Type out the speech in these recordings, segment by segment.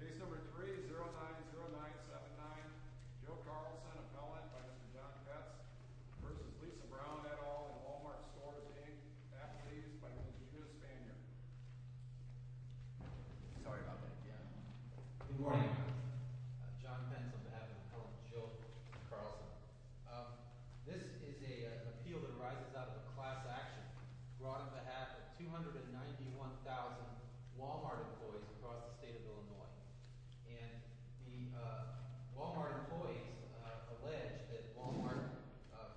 Case number 3090979, Joe Carlson, appellant by Mr. John Fentz v. Lisa Brown et al. in Wal-Mart Stores, Inc., athletes by religion of the Spaniard. Sorry about that. Good morning. I'm John Fentz on behalf of Appellant Joe Carlson. This is an appeal that arises out of a class action brought on behalf of 291,000 Wal-Mart employees across the state of Illinois. And the Wal-Mart employees allege that Wal-Mart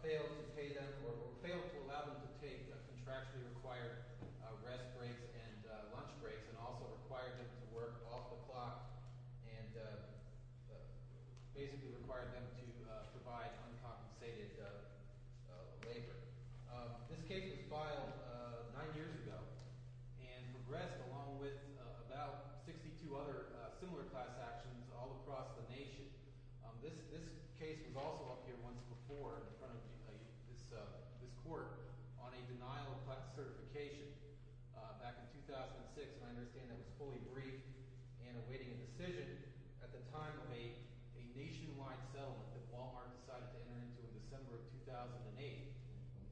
failed to pay them – or failed to allow them to take contractually required rest breaks and lunch breaks and also required them to work off the clock and basically required them to provide uncompensated labor. This case was filed nine years ago and progressed along with about 62 other similar class actions all across the nation. This case was also up here once before in front of this court on a denial of class certification back in 2006, and I understand that was fully briefed and awaiting a decision at the time of a nationwide settlement that Wal-Mart decided to enter into in December of 2008.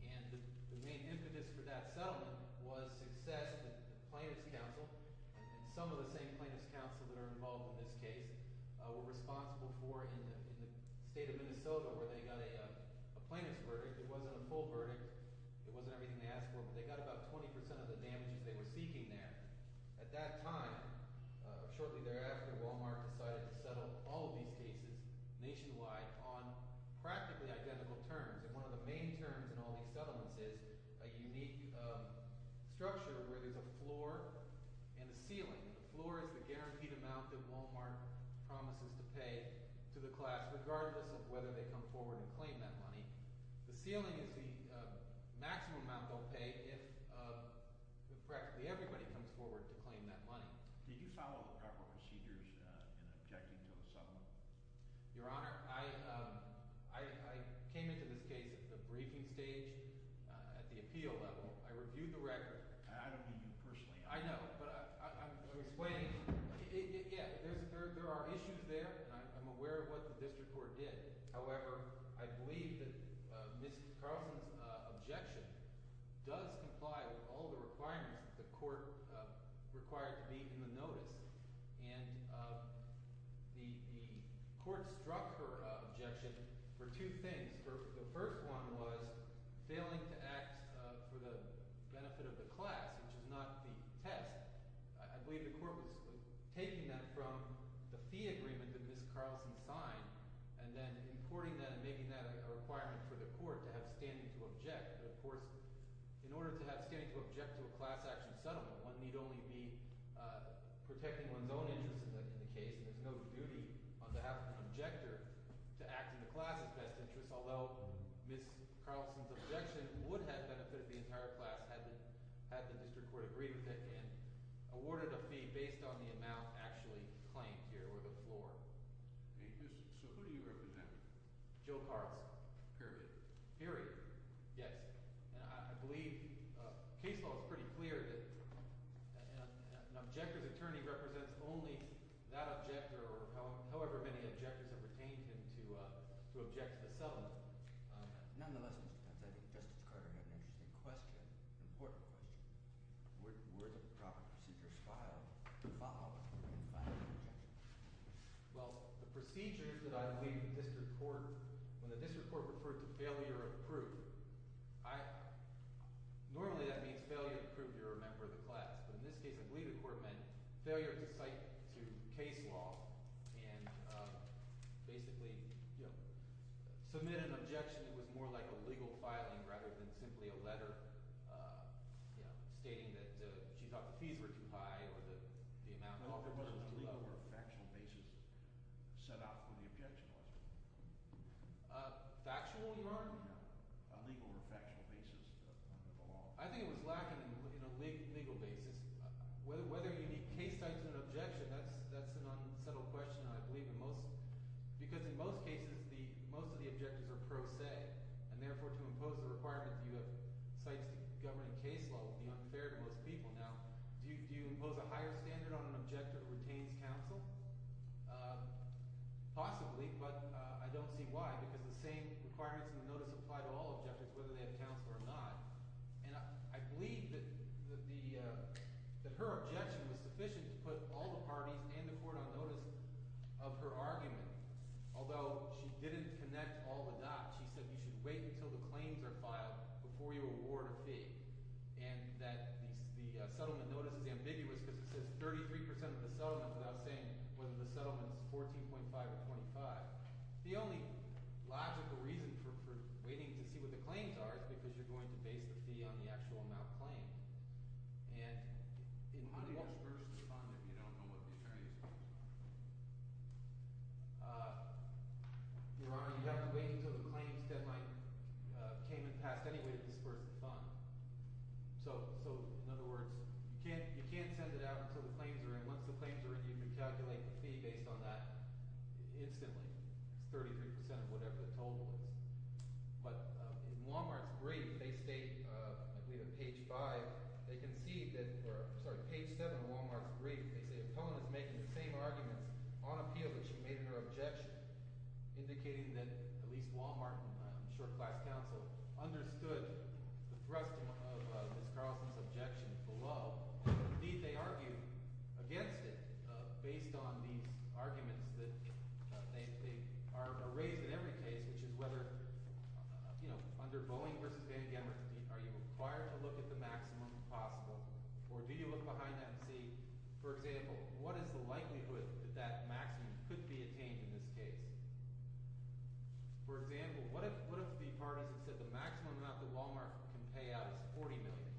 And the main impetus for that settlement was success with the Plaintiffs' Council, and some of the same Plaintiffs' Council that are involved in this case were responsible for in the state of Minnesota where they got a plaintiffs' verdict. It wasn't a full verdict. It wasn't everything they asked for, but they got about 20 percent of the damages they were seeking there. And at that time, shortly thereafter, Wal-Mart decided to settle all of these cases nationwide on practically identical terms. And one of the main terms in all these settlements is a unique structure where there's a floor and a ceiling. The floor is the guaranteed amount that Wal-Mart promises to pay to the class regardless of whether they come forward and claim that money. The ceiling is the maximum amount they'll pay if practically everybody comes forward to claim that money. Did you follow the proper procedures in objecting to a settlement? Your Honor, I came into this case at the briefing stage, at the appeal level. I reviewed the record. I don't mean you personally. I know, but I'm explaining. Yeah, there are issues there, and I'm aware of what the district court did. However, I believe that Ms. Carlson's objection does comply with all the requirements that the court required to be in the notice. And the court struck her objection for two things. The first one was failing to act for the benefit of the class, which is not the test. I believe the court was taking that from the fee agreement that Ms. Carlson signed and then importing that and making that a requirement for the court to have standing to object. But, of course, in order to have standing to object to a class-action settlement, one need only be protecting one's own interests in the case. And there's no duty on behalf of an objector to act in the class' best interest, although Ms. Carlson's objection would have benefited the entire class had the district court agreed with it. And awarded a fee based on the amount actually claimed here or the floor. So who do you represent? Joe Carlson. Period. Period, yes. And I believe case law is pretty clear that an objector's attorney represents only that objector or however many objectors have retained him to object to the settlement. Nonetheless, Mr. Pence, I think Justice Carter had an interesting question, an important question. Where do the proper procedures fall when filing an objection? Well, the procedures that I believe the district court – when the district court referred to failure of proof, I – normally that means failure of proof you're a member of the class. But in this case, I believe the court meant failure to cite to case law and basically submit an objection that was more like a legal filing rather than simply a letter stating that she thought the fees were too high or the amount – I don't know if there was a legal or a factual basis set out for the objection. Factual, you mean? No, a legal or factual basis under the law. I think it was lacking in a legal basis. Whether you need case types in an objection, that's an unsettled question, I believe, in most – because in most cases the – most of the objectors are pro se, and therefore to impose the requirement that you have cites to governing case law would be unfair to most people. Now, do you impose a higher standard on an objector who retains counsel? Possibly, but I don't see why because the same requirements in the notice apply to all objectors, whether they have counsel or not. And I believe that the – that her objection was sufficient to put all the parties and the court on notice of her argument. Although she didn't connect all the dots. She said you should wait until the claims are filed before you award a fee and that the settlement notice is ambiguous because it says 33% of the settlement without saying whether the settlement is 14.5 or 25. The only logical reason for waiting to see what the claims are is because you're going to base the fee on the actual amount claimed. And in my – How do you disperse the fund if you don't know what these charges are? Your Honor, you have to wait until the claims deadline came in past anyway to disperse the fund. So, in other words, you can't send it out until the claims are in. Once the claims are in, you can calculate the fee based on that instantly. It's 33% of whatever the total is. But in Wal-Mart's brief, they state – I believe in page five – they concede that – sorry, page seven of Wal-Mart's brief. They say Opponent is making the same arguments on appeal that she made in her objection, indicating that at least Wal-Mart and Short Class Counsel understood the thrust of Ms. Carlson's objection below. Indeed, they argue against it based on these arguments that they – are raised in every case, which is whether – you know, under Boeing v. Van Gammert, are you required to look at the maximum possible? Or do you look behind that and see, for example, what is the likelihood that that maximum could be attained in this case? For example, what if the parties had said the maximum amount that Wal-Mart can pay out is $40 million?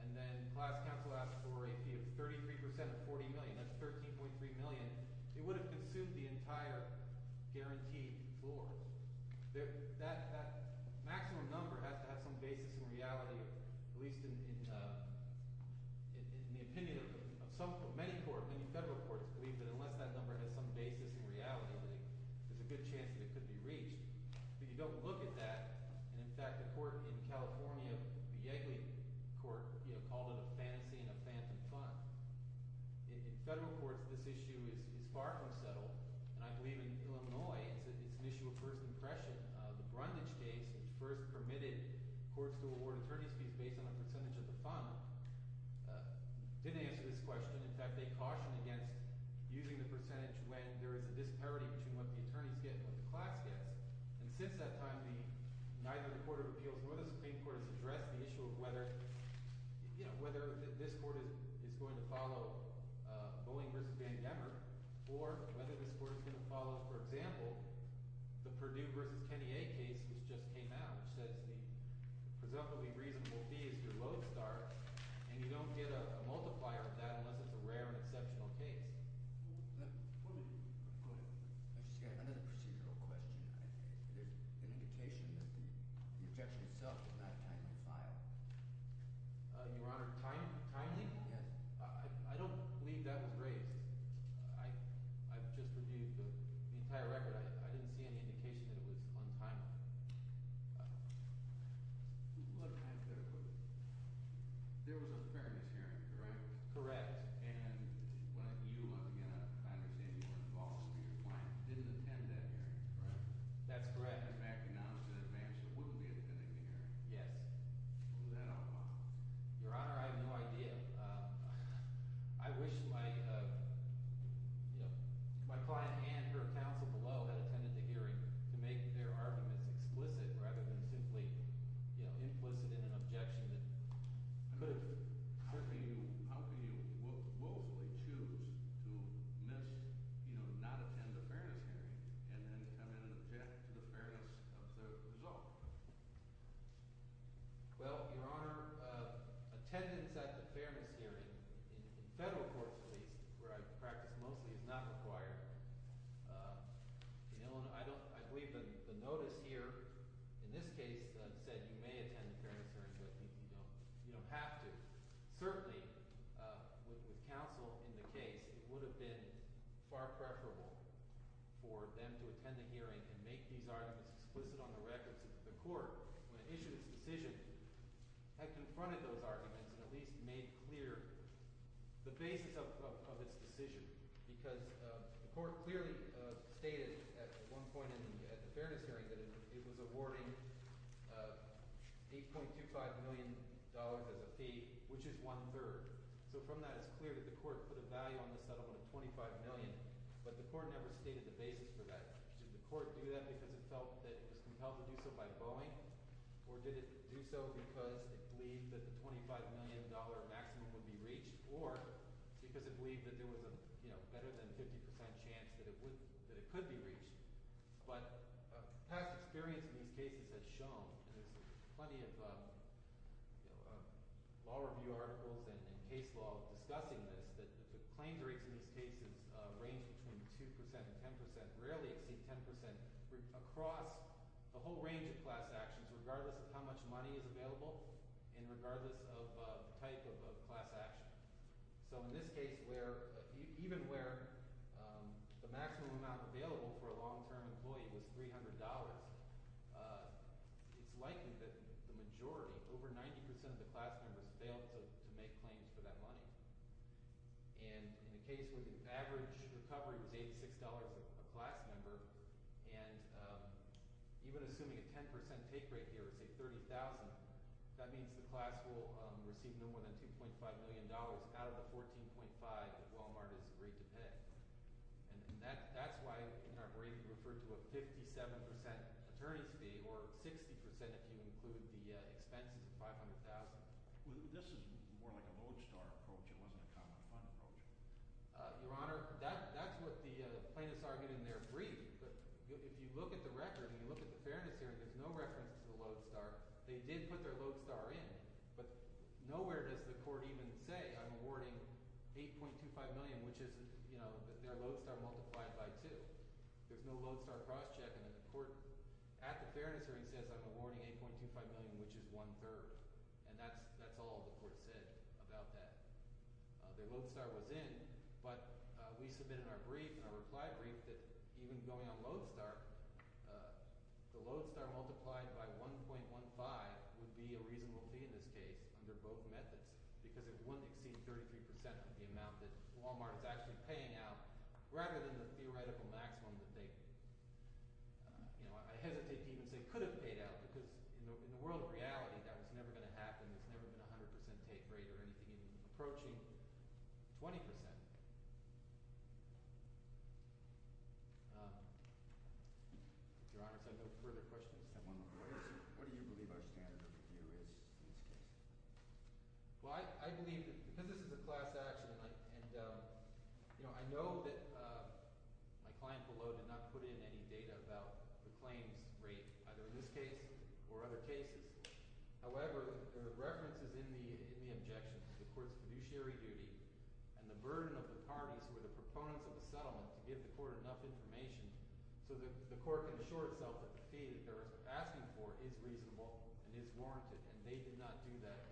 And then Class Counsel asked for a fee of 33% of $40 million. That's $13.3 million. It would have consumed the entire guarantee floor. That maximum number has to have some basis in reality, at least in the opinion of some – of many courts, many federal courts believe that unless that number has some basis in reality, there's a good chance that it could be reached. But you don't look at that, and in fact, the court in California, the Yegley Court, called it a fantasy and a phantom fund. In federal courts, this issue is far from settled, and I believe in Illinois it's an issue of first impression. The Brundage case, which first permitted courts to award attorney's fees based on the percentage of the fund, didn't answer this question. In fact, they cautioned against using the percentage when there is a disparity between what the attorneys get and what the class gets. And since that time, neither the Court of Appeals nor the Supreme Court has addressed the issue of whether this court is going to follow Boeing v. Van Gammer or whether this court is going to follow, for example, the Purdue v. Kenny A case, which just came out, which says the presumably reasonable fee is your load start, and you don't get a multiplier of that unless it's a rare and exceptional case. Let me go to another procedural question. There's an indication that the objection itself was not a timely file. Your Honor, timely? Yes. I don't believe that was raised. I've just reviewed the entire record. I didn't see any indication that it was untimely. There was a fairness hearing, correct? Correct. And you, again, I understand you weren't involved, but your client didn't attend that hearing, correct? That's correct. In fact, he announced it in advance that he wouldn't be attending the hearing. Yes. Was that on file? Your Honor, I have no idea. I wish my client and her counsel below had attended the hearing to make their arguments explicit rather than simply implicit in an objection that moved. How can you willfully choose to miss – you know, not attend a fairness hearing and then come in and object to the fairness of the result? Well, Your Honor, attendance at the fairness hearing in federal courts at least, where I practice mostly, is not required. I believe the notice here in this case said you may attend the fairness hearing, but I think you don't have to. Certainly, with counsel in the case, it would have been far preferable for them to attend the hearing and make these arguments explicit on the records. The court, when it issued its decision, had confronted those arguments and at least made clear the basis of its decision because the court clearly stated at one point in the fairness hearing that it was awarding $8.25 million as a fee, which is one-third. So from that, it's clear that the court put a value on the settlement of $25 million, but the court never stated the basis for that. Did the court do that because it felt that it was compelled to do so by Boeing, or did it do so because it believed that the $25 million maximum would be reached, or because it believed that there was a better-than-50 percent chance that it could be reached? But past experience in these cases has shown, and there's plenty of law review articles and case law discussing this, that the claims rates in these cases range between 2 percent and 10 percent, rarely exceed 10 percent, across a whole range of class actions regardless of how much money is available and regardless of the type of class action. So in this case where – even where the maximum amount available for a long-term employee was $300, it's likely that the majority, over 90 percent of the class members, failed to make claims for that money. And in the case where the average recovery was $86 a class member, and even assuming a 10 percent take rate here, say $30,000, that means the class will receive no more than $2.5 million out of the $14.5 that Walmart has agreed to pay. And that's why in our brief we referred to a 57 percent attorney's fee, or 60 percent if you include the expenses of $500,000. This is more like a lodestar approach. It wasn't a common fund approach. Your Honor, that's what the plaintiffs argued in their brief. But if you look at the record and you look at the fairness hearing, there's no reference to the lodestar. They did put their lodestar in, but nowhere does the court even say I'm awarding $8.25 million, which is their lodestar multiplied by 2. There's no lodestar crosscheck, and then the court, at the fairness hearing, says I'm awarding $8.25 million, which is one-third. And that's all the court said about that. Their lodestar was in, but we submitted in our brief, in our reply brief, that even going on lodestar, the lodestar multiplied by 1.15 would be a reasonable fee in this case under both methods. Because it wouldn't exceed 33 percent of the amount that Wal-Mart is actually paying out rather than the theoretical maximum that they – I hesitate to even say could have paid out because in the world of reality, that was never going to happen. There's never been a 100 percent take rate or anything even approaching 20 percent. Your Honor, is there no further questions? What do you believe our standard of review is in this case? Well, I believe – because this is a class action, and I know that my client below did not put in any data about the claims rate, either in this case or other cases. However, there are references in the objection to the court's fiduciary duty and the burden of the parties who are the proponents of the settlement to give the court enough information so that the court can assure itself that the fee that they're asking for is reasonable and is warranted. And they did not do that.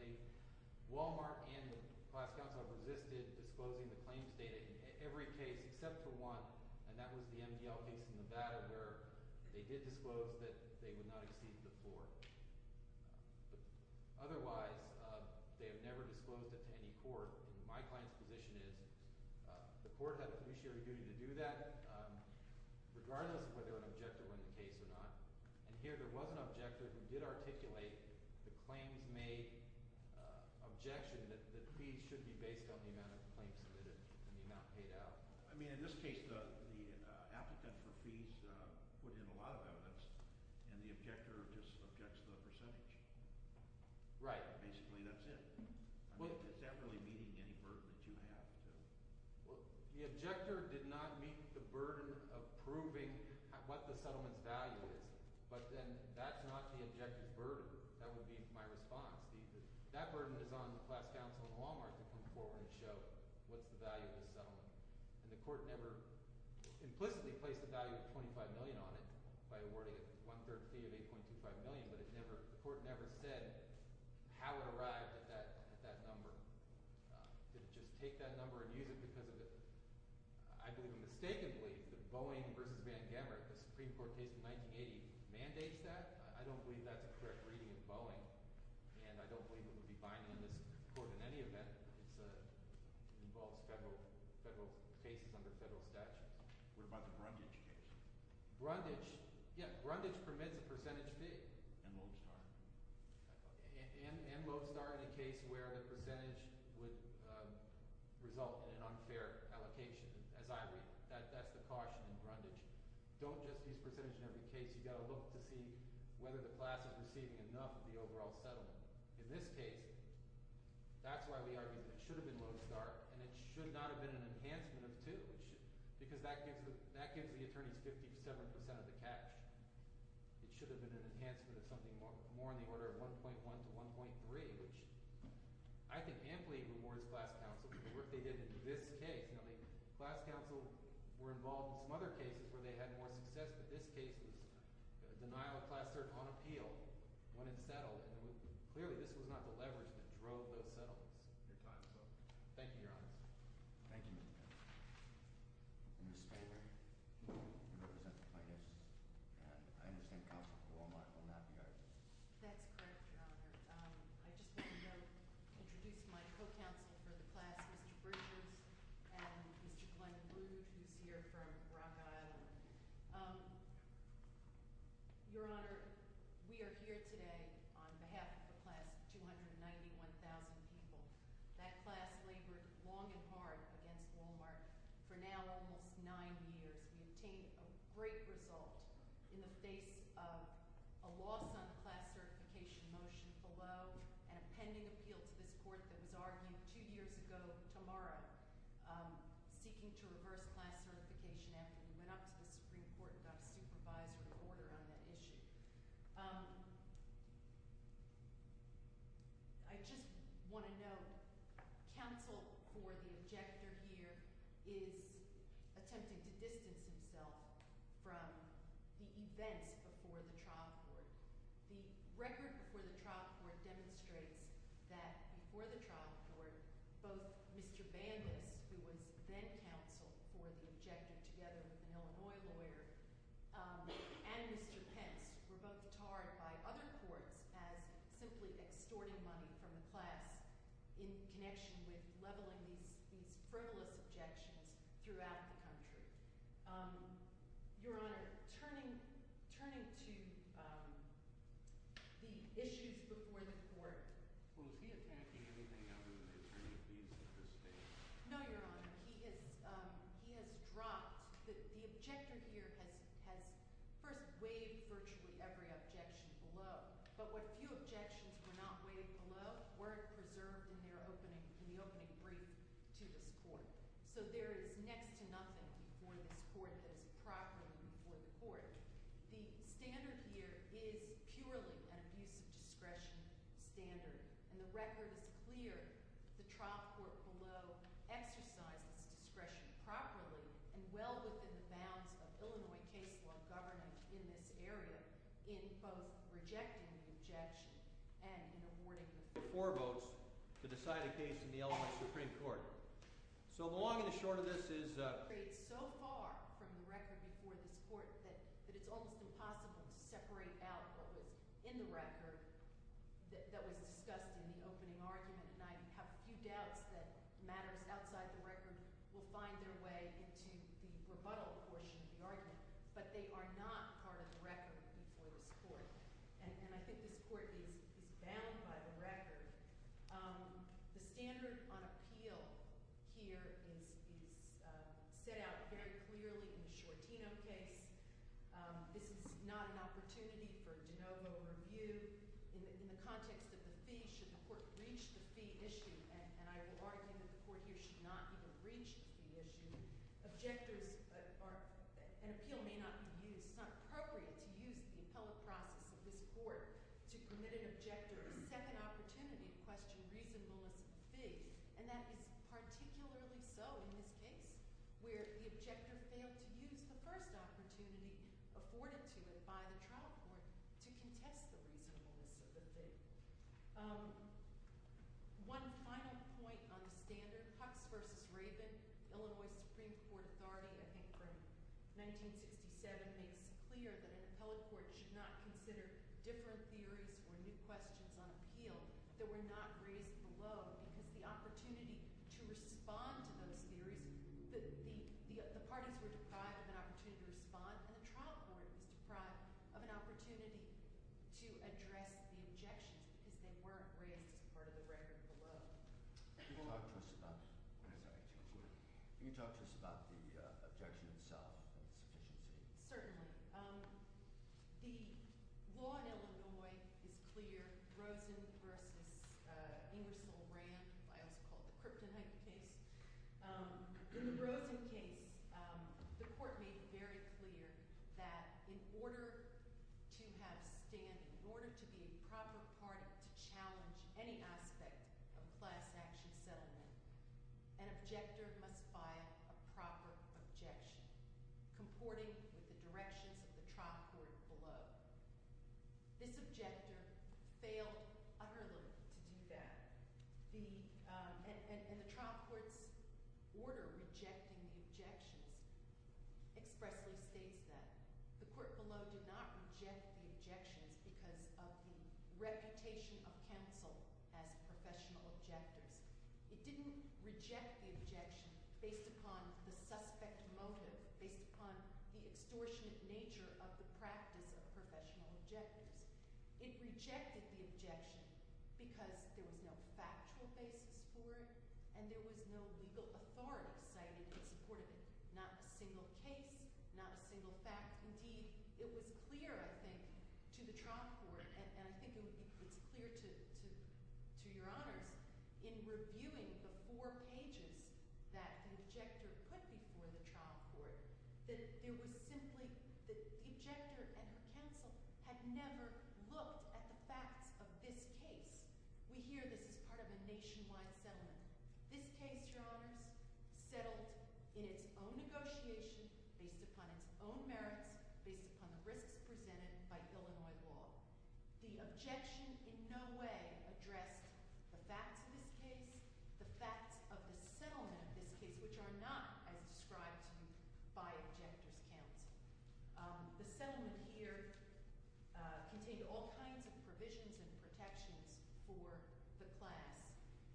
Wal-Mart and the class counsel have resisted disclosing the claims data in every case except for one, and that was the MDL case in Nevada where they did disclose that they would not exceed the floor. Otherwise, they have never disclosed it to any court, and my client's position is the court had a fiduciary duty to do that regardless of whether an objector were in the case or not. And here there was an objector who did articulate the claims made objection that fees should be based on the amount of claims submitted and the amount paid out. I mean, in this case, the applicant for fees put in a lot of evidence, and the objector just objects to the percentage. Right. Basically, that's it. Well – Is that really meeting any burden that you have to – The objector did not meet the burden of proving what the settlement's value is, but then that's not the objector's burden. That would be my response. That burden is on the class counsel and Wal-Mart to come forward and show what's the value of this settlement. And the court never implicitly placed the value of $25 million on it by awarding a one-third fee of $8.25 million, but it never – the court never said how it arrived at that number. Did it just take that number and use it because of the – I believe mistakenly that Boeing v. Van Gammer, the Supreme Court case from 1980 mandates that. I don't believe that's a correct reading of Boeing, and I don't believe it would be binding on this court in any event. It involves federal cases under federal statutes. What about the Brundage case? Brundage – yeah, Brundage permits a percentage fee. And Lovestar. And Lovestar in a case where the percentage would result in an unfair allocation, as I read. That's the caution in Brundage. Don't just use percentage in every case. You've got to look to see whether the class is receiving enough of the overall settlement. In this case, that's why we argue that it should have been Lovestar, and it should not have been an enhancement of two. Because that gives the attorneys 57 percent of the cash. It should have been an enhancement of something more in the order of 1.1 to 1.3, which I think amply rewards class counsel for the work they did in this case. I mean class counsel were involved in some other cases where they had more success, but this case was a denial of class cert on appeal when it settled. And clearly this was not the leverage that drove those settlements. Your time is up. Thank you, Your Honors. Thank you, Mr. Chairman. Ms. Spalding, you represent the plaintiffs, and I understand counsel at Walmart will not be arguing. That's correct, Your Honor. I just want to introduce my co-counsel for the class, Mr. Bridges, and Mr. Glenn Rude, who's here from Rock Island. Your Honor, we are here today on behalf of the class of 291,000 people. That class labored long and hard against Walmart for now almost nine years. We obtained a great result in the face of a loss on the class certification motion below and a pending appeal to this court that was argued two years ago tomorrow, seeking to reverse class certification after we went up to the Supreme Court and got a supervisory order on that issue. I just want to note, counsel for the objector here is attempting to distance himself from the events before the trial court. The record before the trial court demonstrates that before the trial court, both Mr. Bandus, who was then counsel for the objector together with an Illinois lawyer, and Mr. Pence were both tarred by other courts as simply extorting money from the class in connection with leveling these frivolous objections throughout the country. Your Honor, turning to the issues before the court— Well, is he attacking anything other than an attorney at least at this stage? No, Your Honor. He has dropped—the objector here has first waived virtually every objection below, but what few objections were not waived below weren't preserved in their opening—in the opening brief to this court. So there is next to nothing before this court that is properly before the court. The standard here is purely an abuse of discretion standard, and the record is clear. The trial court below exercised its discretion properly and well within the bounds of Illinois case law government in this area in both rejecting the objection and in awarding— to decide a case in the Illinois Supreme Court. So the long and the short of this is— —so far from the record before this court that it's almost impossible to separate out what was in the record that was discussed in the opening argument, and I have few doubts that matters outside the record will find their way into the rebuttal portion of the argument. But they are not part of the record before this court, and I think this court is bound by the record. The standard on appeal here is set out very clearly in the Shortino case. This is not an opportunity for de novo review. In the context of the fee, should the court reach the fee issue, and I would argue that the court here should not even reach the fee issue, objectors are—an appeal may not be used. It's not appropriate to use the appellate process of this court to permit an objector a second opportunity to question reasonableness of the fee, and that is particularly so in this case where the objector failed to use the first opportunity afforded to him by the trial court to contest the reasonableness of the fee. One final point on the standard. Hux v. Rabin, the Illinois Supreme Court Authority, I think from 1967, made it clear that an appellate court should not consider different theories or new questions on appeal that were not raised below because the opportunity to respond to those theories—the parties were deprived of an opportunity to respond, and the trial court was deprived of an opportunity to address the objections because they weren't raised as part of the record below. Can you talk to us about the objection itself and the sufficiency? Certainly. The law in Illinois is clear. Rosen v. Ingersoll-Rand, I also call it the Kryptonite case. In the Rosen case, the court made it very clear that in order to have standing, in order to be a proper party to challenge any aspect of class action settlement, an objector must file a proper objection, comporting with the directions of the trial court below. This objector failed utterly to do that. And the trial court's order rejecting the objections expressly states that. The court below did not reject the objections because of the reputation of counsel as professional objectors. It didn't reject the objection based upon the suspect motive, based upon the extortionate nature of the practice of professional objectors. It rejected the objection because there was no factual basis for it and there was no legal authority cited in support of it. Not a single case, not a single fact. Indeed, it was clear, I think, to the trial court, and I think it's clear to your honors, in reviewing the four pages that the objector put before the trial court, that there was simply – that the objector and her counsel had never looked at the facts of this case. We hear this is part of a nationwide settlement. This case, your honors, settled in its own negotiation, based upon its own merits, based upon the risks presented by Illinois law. The objection in no way addressed the facts of this case, the facts of the settlement of this case, which are not as described to you by objector's counsel. The settlement here contained all kinds of provisions and protections for the class,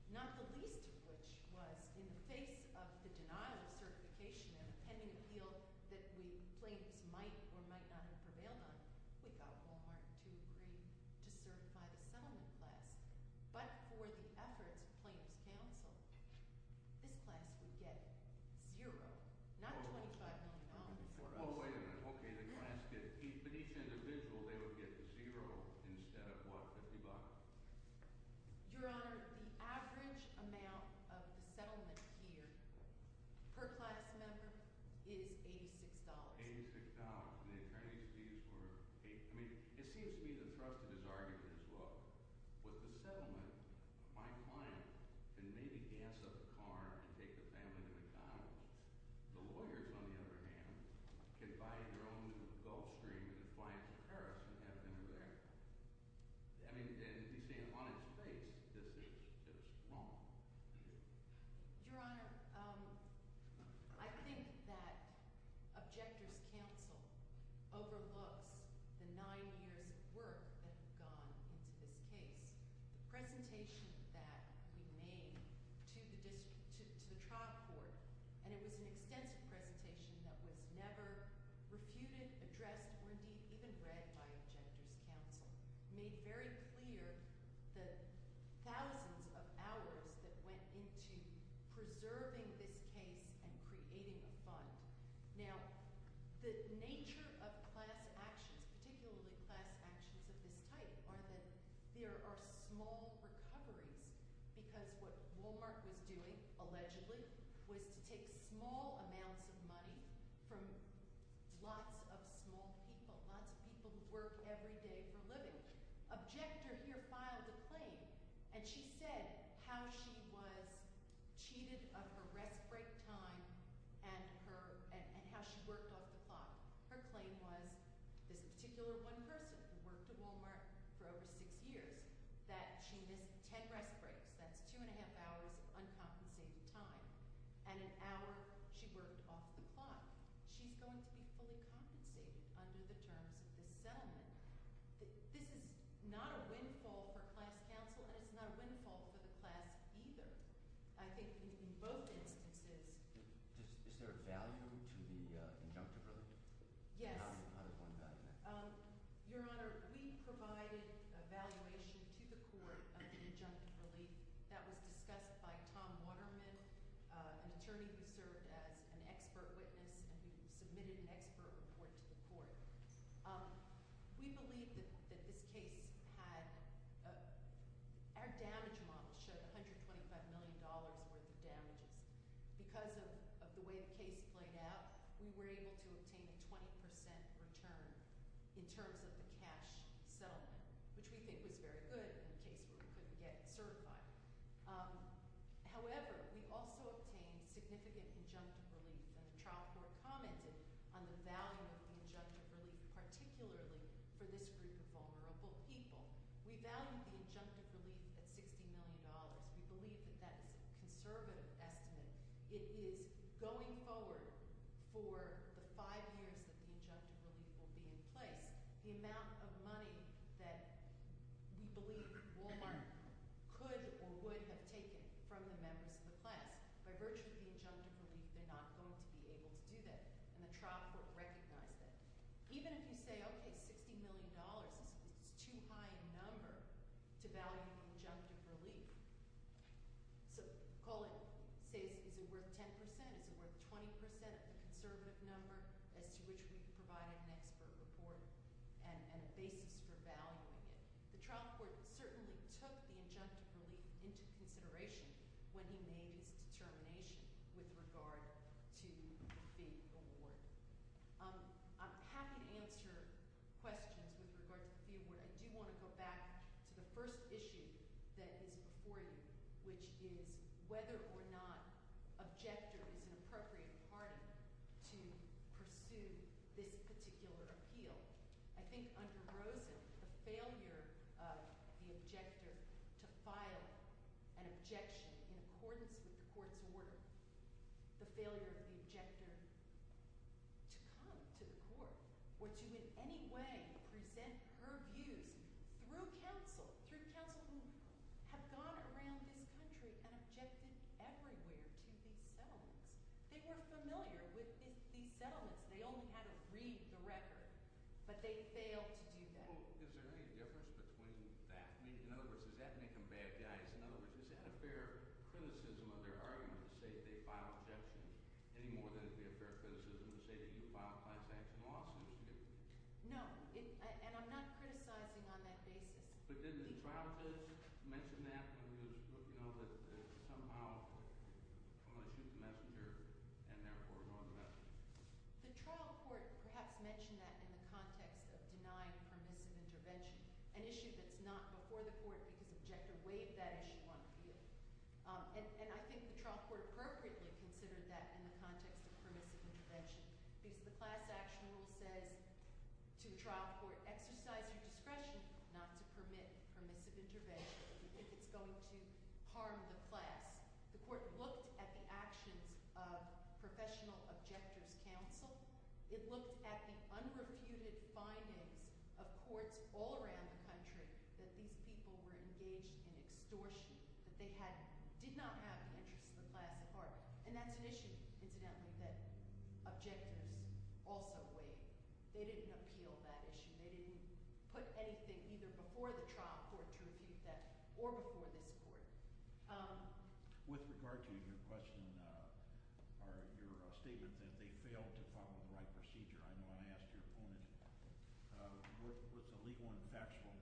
not the least of which was in the face of the denial of certification and pending appeal that plaintiffs might or might not have prevailed on, we got Walmart to agree to certify the settlement class. But for the efforts of plaintiffs' counsel, this class would get zero, not $25 million for us. Oh, wait a minute. Okay, the class gets – but each individual, they would get zero instead of what, $50? Your Honor, the average amount of the settlement here per class member is $86. $86, and the attorney's fees were – I mean, it seems to me the thrust of this argument is, look, with the settlement, my client can maybe gas up a car and take the family to McDonald's. The lawyers, on the other hand, can buy their own Gulfstream and fly it to Paris and have dinner there. I mean, you see, on its face, this is wrong. Your Honor, I think that objector's counsel overlooks the nine years of work that have gone into this case. The presentation that we made to the trial court, and it was an extensive presentation that was never refuted, addressed, or indeed even read by objector's counsel, made very clear the thousands of hours that went into preserving this case and creating a fund. Now, the nature of class actions, particularly class actions of this type, are that there are small recoveries because what Walmart was doing, allegedly, was to take small amounts of money from lots of small people, lots of people who work every day for a living. Objector here filed a claim, and she said how she was cheated of her rest break time and how she worked off the clock. Her claim was this particular one person who worked at Walmart for over six years, that she missed ten rest breaks. That's two and a half hours of uncompensated time, and an hour she worked off the clock. She's going to be fully compensated under the terms of this settlement. This is not a windfall for class counsel, and it's not a windfall for the class either. I think in both instances- Is there a value to the injunctive relief? Yes. How does one value that? Your Honor, we provided a valuation to the court of the injunctive relief. That was discussed by Tom Waterman, an attorney who served as an expert witness and who submitted an expert report to the court. We believe that this case had- our damage model showed $125 million worth of damages. Because of the way the case played out, we were able to obtain a 20% return in terms of the cash settlement, which we think was very good in a case where we couldn't get it certified. However, we also obtained significant injunctive relief, and the trial court commented on the value of the injunctive relief, particularly for this group of vulnerable people. We valued the injunctive relief at $60 million. We believe that that is a conservative estimate. It is going forward for the five years that the injunctive relief will be in place. The amount of money that we believe Walmart could or would have taken from the members of the class, by virtue of the injunctive relief, they're not going to be able to do that. And the trial court recognized that. Even if you say, okay, $60 million, it's too high a number to value the injunctive relief. So Colin says, is it worth 10%? Is it worth 20% of the conservative number as to which we provided an expert report and a basis for valuing it? The trial court certainly took the injunctive relief into consideration when he made his determination with regard to the fee award. I'm happy to answer questions with regard to the fee award. I do want to go back to the first issue that is before you, which is whether or not an objector is an appropriate party to pursue this particular appeal. I think under Rosen, the failure of the objector to file an objection in accordance with the court's order, the failure of the objector to come to the court or to in any way present her views through counsel, through counsel who have gone around this country and objected everywhere to these settlements. They were familiar with these settlements. They only had to read the record. But they failed to do that. Is there any difference between that? In other words, does that make them bad guys? In other words, is that a fair criticism of their argument to say they filed objections, any more than it would be a fair criticism to say that you filed a class-action lawsuit? No, and I'm not criticizing on that basis. But didn't the trial judge mention that? You know, that somehow, unless you're the messenger and therefore wrong about it. The trial court perhaps mentioned that in the context of denying permissive intervention, an issue that's not before the court because objector waived that issue on appeal. And I think the trial court appropriately considered that in the context of permissive intervention because the class-action rule says to trial court, exercise your discretion not to permit permissive intervention if it's going to harm the class. The court looked at the actions of professional objector's counsel. It looked at the unrefuted findings of courts all around the country that these people were engaged in extortion, that they did not have an interest in the class at heart. And that's an issue, incidentally, that objectors also waive. They didn't appeal that issue. They didn't put anything either before the trial court to refute that or before this court. With regard to your question or your statement that they failed to follow the right procedure, I know I asked your opponent what's a legal and factual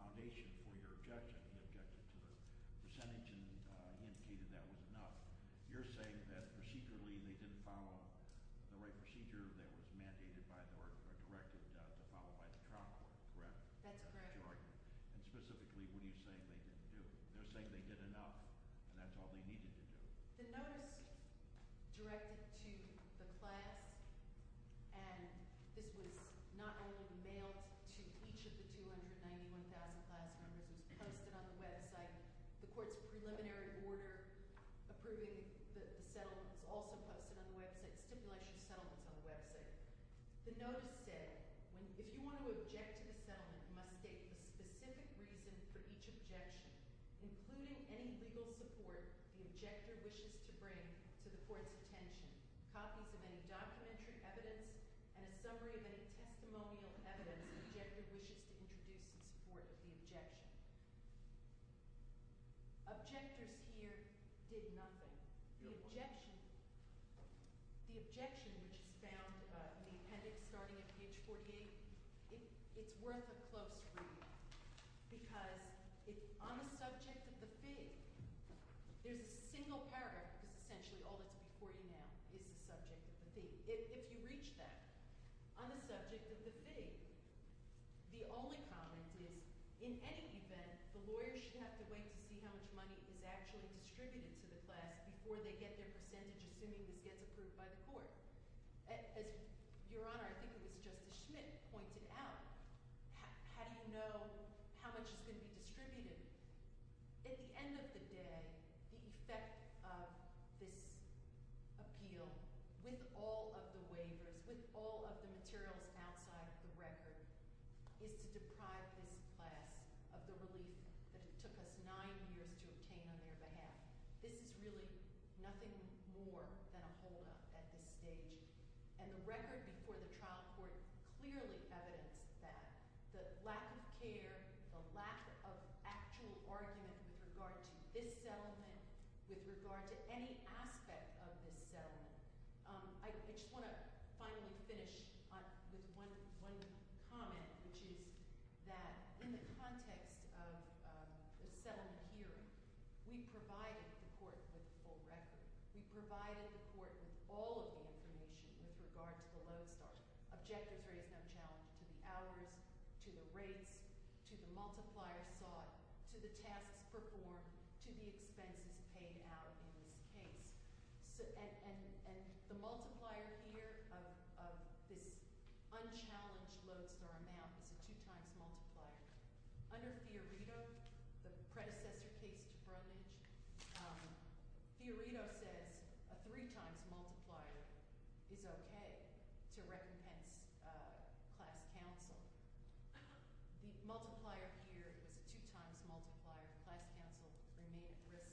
foundation for your objection. He objected to the percentage and indicated that was enough. You're saying that procedurally they didn't follow the right procedure that was mandated by or directed to follow by the trial court, correct? That's correct. And specifically, what are you saying they didn't do? They're saying they did enough, and that's all they needed to do. The notice directed to the class, and this was not only mailed to each of the 291,000 class members. It was posted on the website. The court's preliminary order approving the settlements also posted on the website, stipulation of settlements on the website. The notice said, if you want to object to the settlement, you must state the specific reason for each objection, including any legal support the objector wishes to bring to the court's attention, copies of any documentary evidence, and a summary of any testimonial evidence the objector wishes to introduce in support of the objection. Objectors here did nothing. The objection, which is found in the appendix starting at page 48, it's worth a close read. Because on the subject of the fee, there's a single paragraph because essentially all that's before you now is the subject of the fee. If you reach that on the subject of the fee, the only comment is, in any event, the lawyer should have to wait to see how much money is actually distributed to the class before they get their percentage, assuming this gets approved by the court. As Your Honor, I think it was Justice Schmidt, pointed out, how do you know how much is going to be distributed? At the end of the day, the effect of this appeal, with all of the waivers, with all of the materials outside of the record, is to deprive this class of the relief that it took us nine years to obtain on their behalf. This is really nothing more than a holdup at this stage. And the record before the trial court clearly evidenced that. The lack of care, the lack of actual argument with regard to this settlement, with regard to any aspect of this settlement. I just want to finally finish with one comment, which is that in the context of the settlement here, we provided the court with a full record. We provided the court with all of the information with regard to the lodestar. Objectors raised no challenge to the hours, to the rates, to the multiplier sought, to the tasks performed, to the expenses paid out in this case. And the multiplier here of this unchallenged lodestar amount is a two-times multiplier. Under Fiorito, the predecessor case to Brundage, Fiorito says a three-times multiplier is okay to recompense class counsel. The multiplier here was a two-times multiplier. Class counsel remained at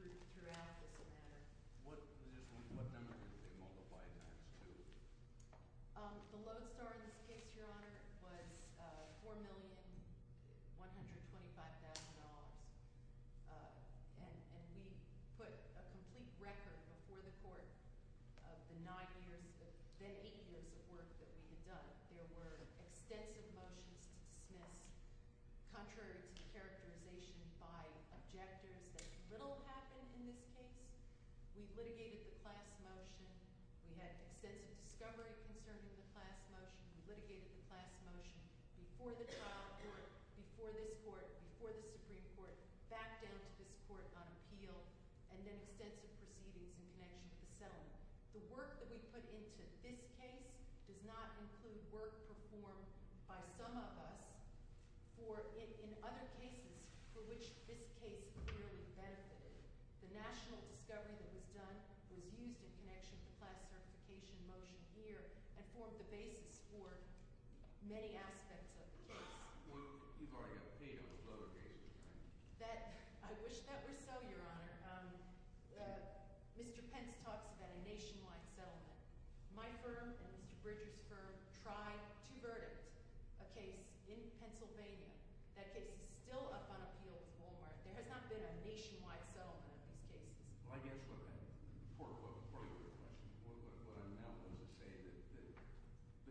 risk throughout this matter. What number did they multiply times two? The lodestar in this case, Your Honor, was $4,125,000. And we put a complete record before the court of the nine years – the eight years of work that we had done. There were extensive motions to dismiss contrary to the characterization by objectors that little happened in this case. We litigated the class motion. We had extensive discovery concerning the class motion. We litigated the class motion before the trial court, before this court, before the Supreme Court, back down to this court on appeal, and then extensive proceedings in connection to the settlement. The work that we put into this case does not include work performed by some of us for – in other cases for which this case clearly benefited. The national discovery that was done was used in connection to the class certification motion here and formed the basis for many aspects of the case. You've already got paid on the lower cases, right? That – I wish that were so, Your Honor. Mr. Pence talks about a nationwide settlement. My firm and Mr. Bridger's firm tried to verdict a case in Pennsylvania. That case is still up on appeal with Walmart. There has not been a nationwide settlement of these cases. Well, I guess what I'm – part of your question, what I'm now willing to say is that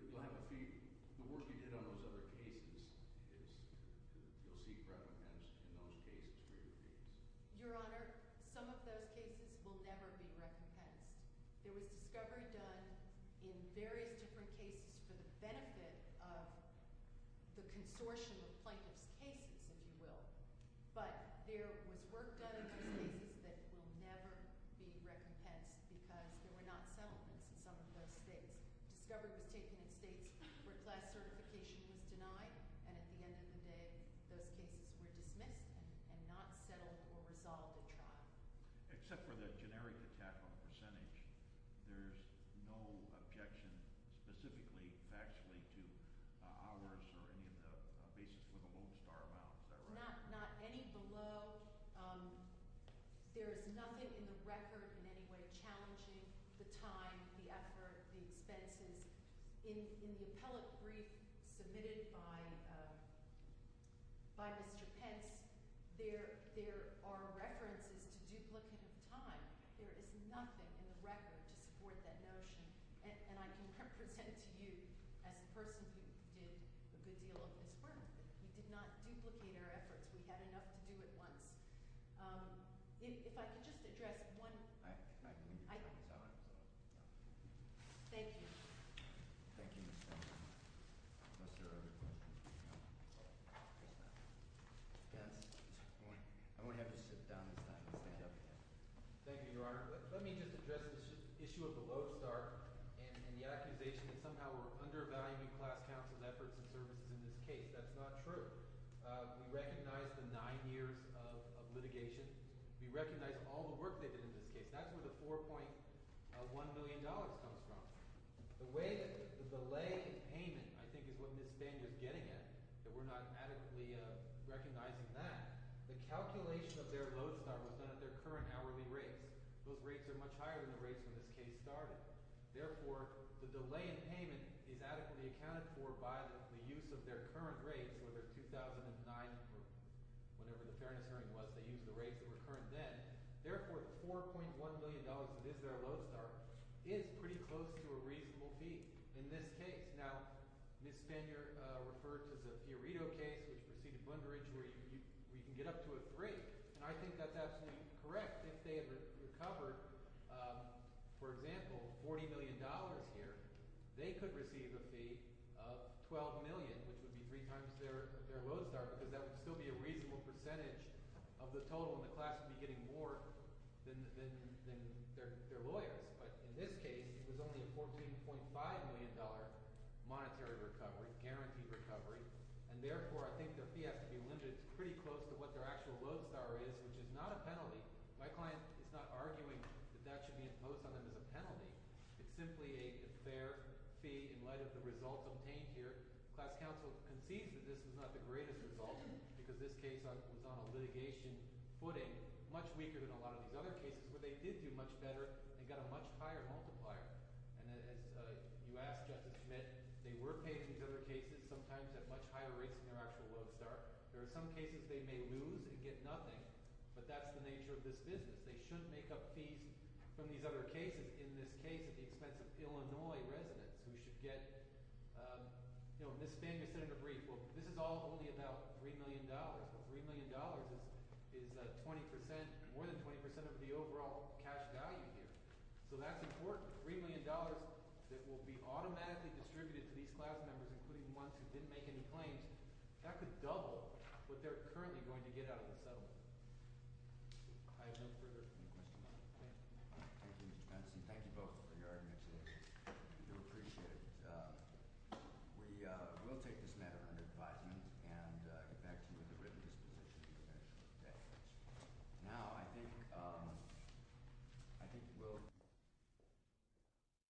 you'll have a fee – the work you did on those other cases is – you'll see private pension in those cases for your fees. Your Honor, some of those cases will never be recompensed. There was discovery done in various different cases for the benefit of the consortium of plaintiff's cases, if you will. But there was work done in those cases that will never be recompensed because there were not settlements in some of those states. Discovery was taken in states where class certification was denied, and at the end of the day, those cases were dismissed and not settled or resolved at trial. Except for the generic attack on the percentage, there's no objection specifically, factually to ours or any of the basis for the Lone Star amount. Is that right? Not any below. There is nothing in the record in any way challenging the time, the effort, the expenses. In the appellate brief submitted by Mr. Pence, there are references to duplicative time. There is nothing in the record to support that notion, and I can represent to you as a person who did a good deal of this work. We did not duplicate our efforts. We had enough to do it once. If I could just address one. Thank you. Thank you, Ms. Stone. Unless there are other questions. I won't have you sit down this time. Thank you, Your Honor. Let me just address the issue of the Lone Star and the accusation that somehow we're undervaluing class counsel's efforts and services in this case. That's not true. We recognize the nine years of litigation. We recognize all the work they did in this case. That's where the $4.1 million comes from. The way that the delay in payment, I think, is what Ms. Spanger is getting at, that we're not adequately recognizing that. The calculation of their Lone Star was done at their current hourly rates. Those rates are much higher than the rates when this case started. Therefore, the delay in payment is adequately accounted for by the use of their current rates, whether 2009 or whenever the fairness hearing was. They used the rates that were current then. Therefore, the $4.1 million that is their Lone Star is pretty close to a reasonable fee in this case. Now, Ms. Spanger referred to the Fiorito case, which preceded Blunderidge, where you can get up to a three. And I think that's absolutely correct. If they had recovered, for example, $40 million here, they could receive a fee of $12 million, which would be three times their Lone Star, because that would still be a reasonable percentage of the total, and the class would be getting more than their lawyers. But in this case, it was only a $14.5 million monetary recovery, guaranteed recovery. And therefore, I think the fee has to be limited pretty close to what their actual Lone Star is, which is not a penalty. My client is not arguing that that should be imposed on them as a penalty. It's simply a fair fee in light of the results obtained here. Class counsel concedes that this was not the greatest result because this case was on a litigation footing, much weaker than a lot of these other cases where they did do much better and got a much higher multiplier. And as you asked, Justice Smith, they were paid for these other cases, sometimes at much higher rates than their actual Lone Star. There are some cases they may lose and get nothing, but that's the nature of this business. They shouldn't make up fees from these other cases. In this case, at the expense of Illinois residents who should get – you know, Ms. Spangler said in a brief, well, this is all only about $3 million. Well, $3 million is 20% – more than 20% of the overall cash value here. So that's important. $3 million that will be automatically distributed to these class members, including the ones who didn't make any claims, that could double what they're currently going to get out of the settlement. I have no further questions. Thank you, Mr. Benson. Thank you both for your arguments today. We do appreciate it. We will take this matter under advisement and get back to you with a written disposition eventually. Okay. Now I think – I think we'll –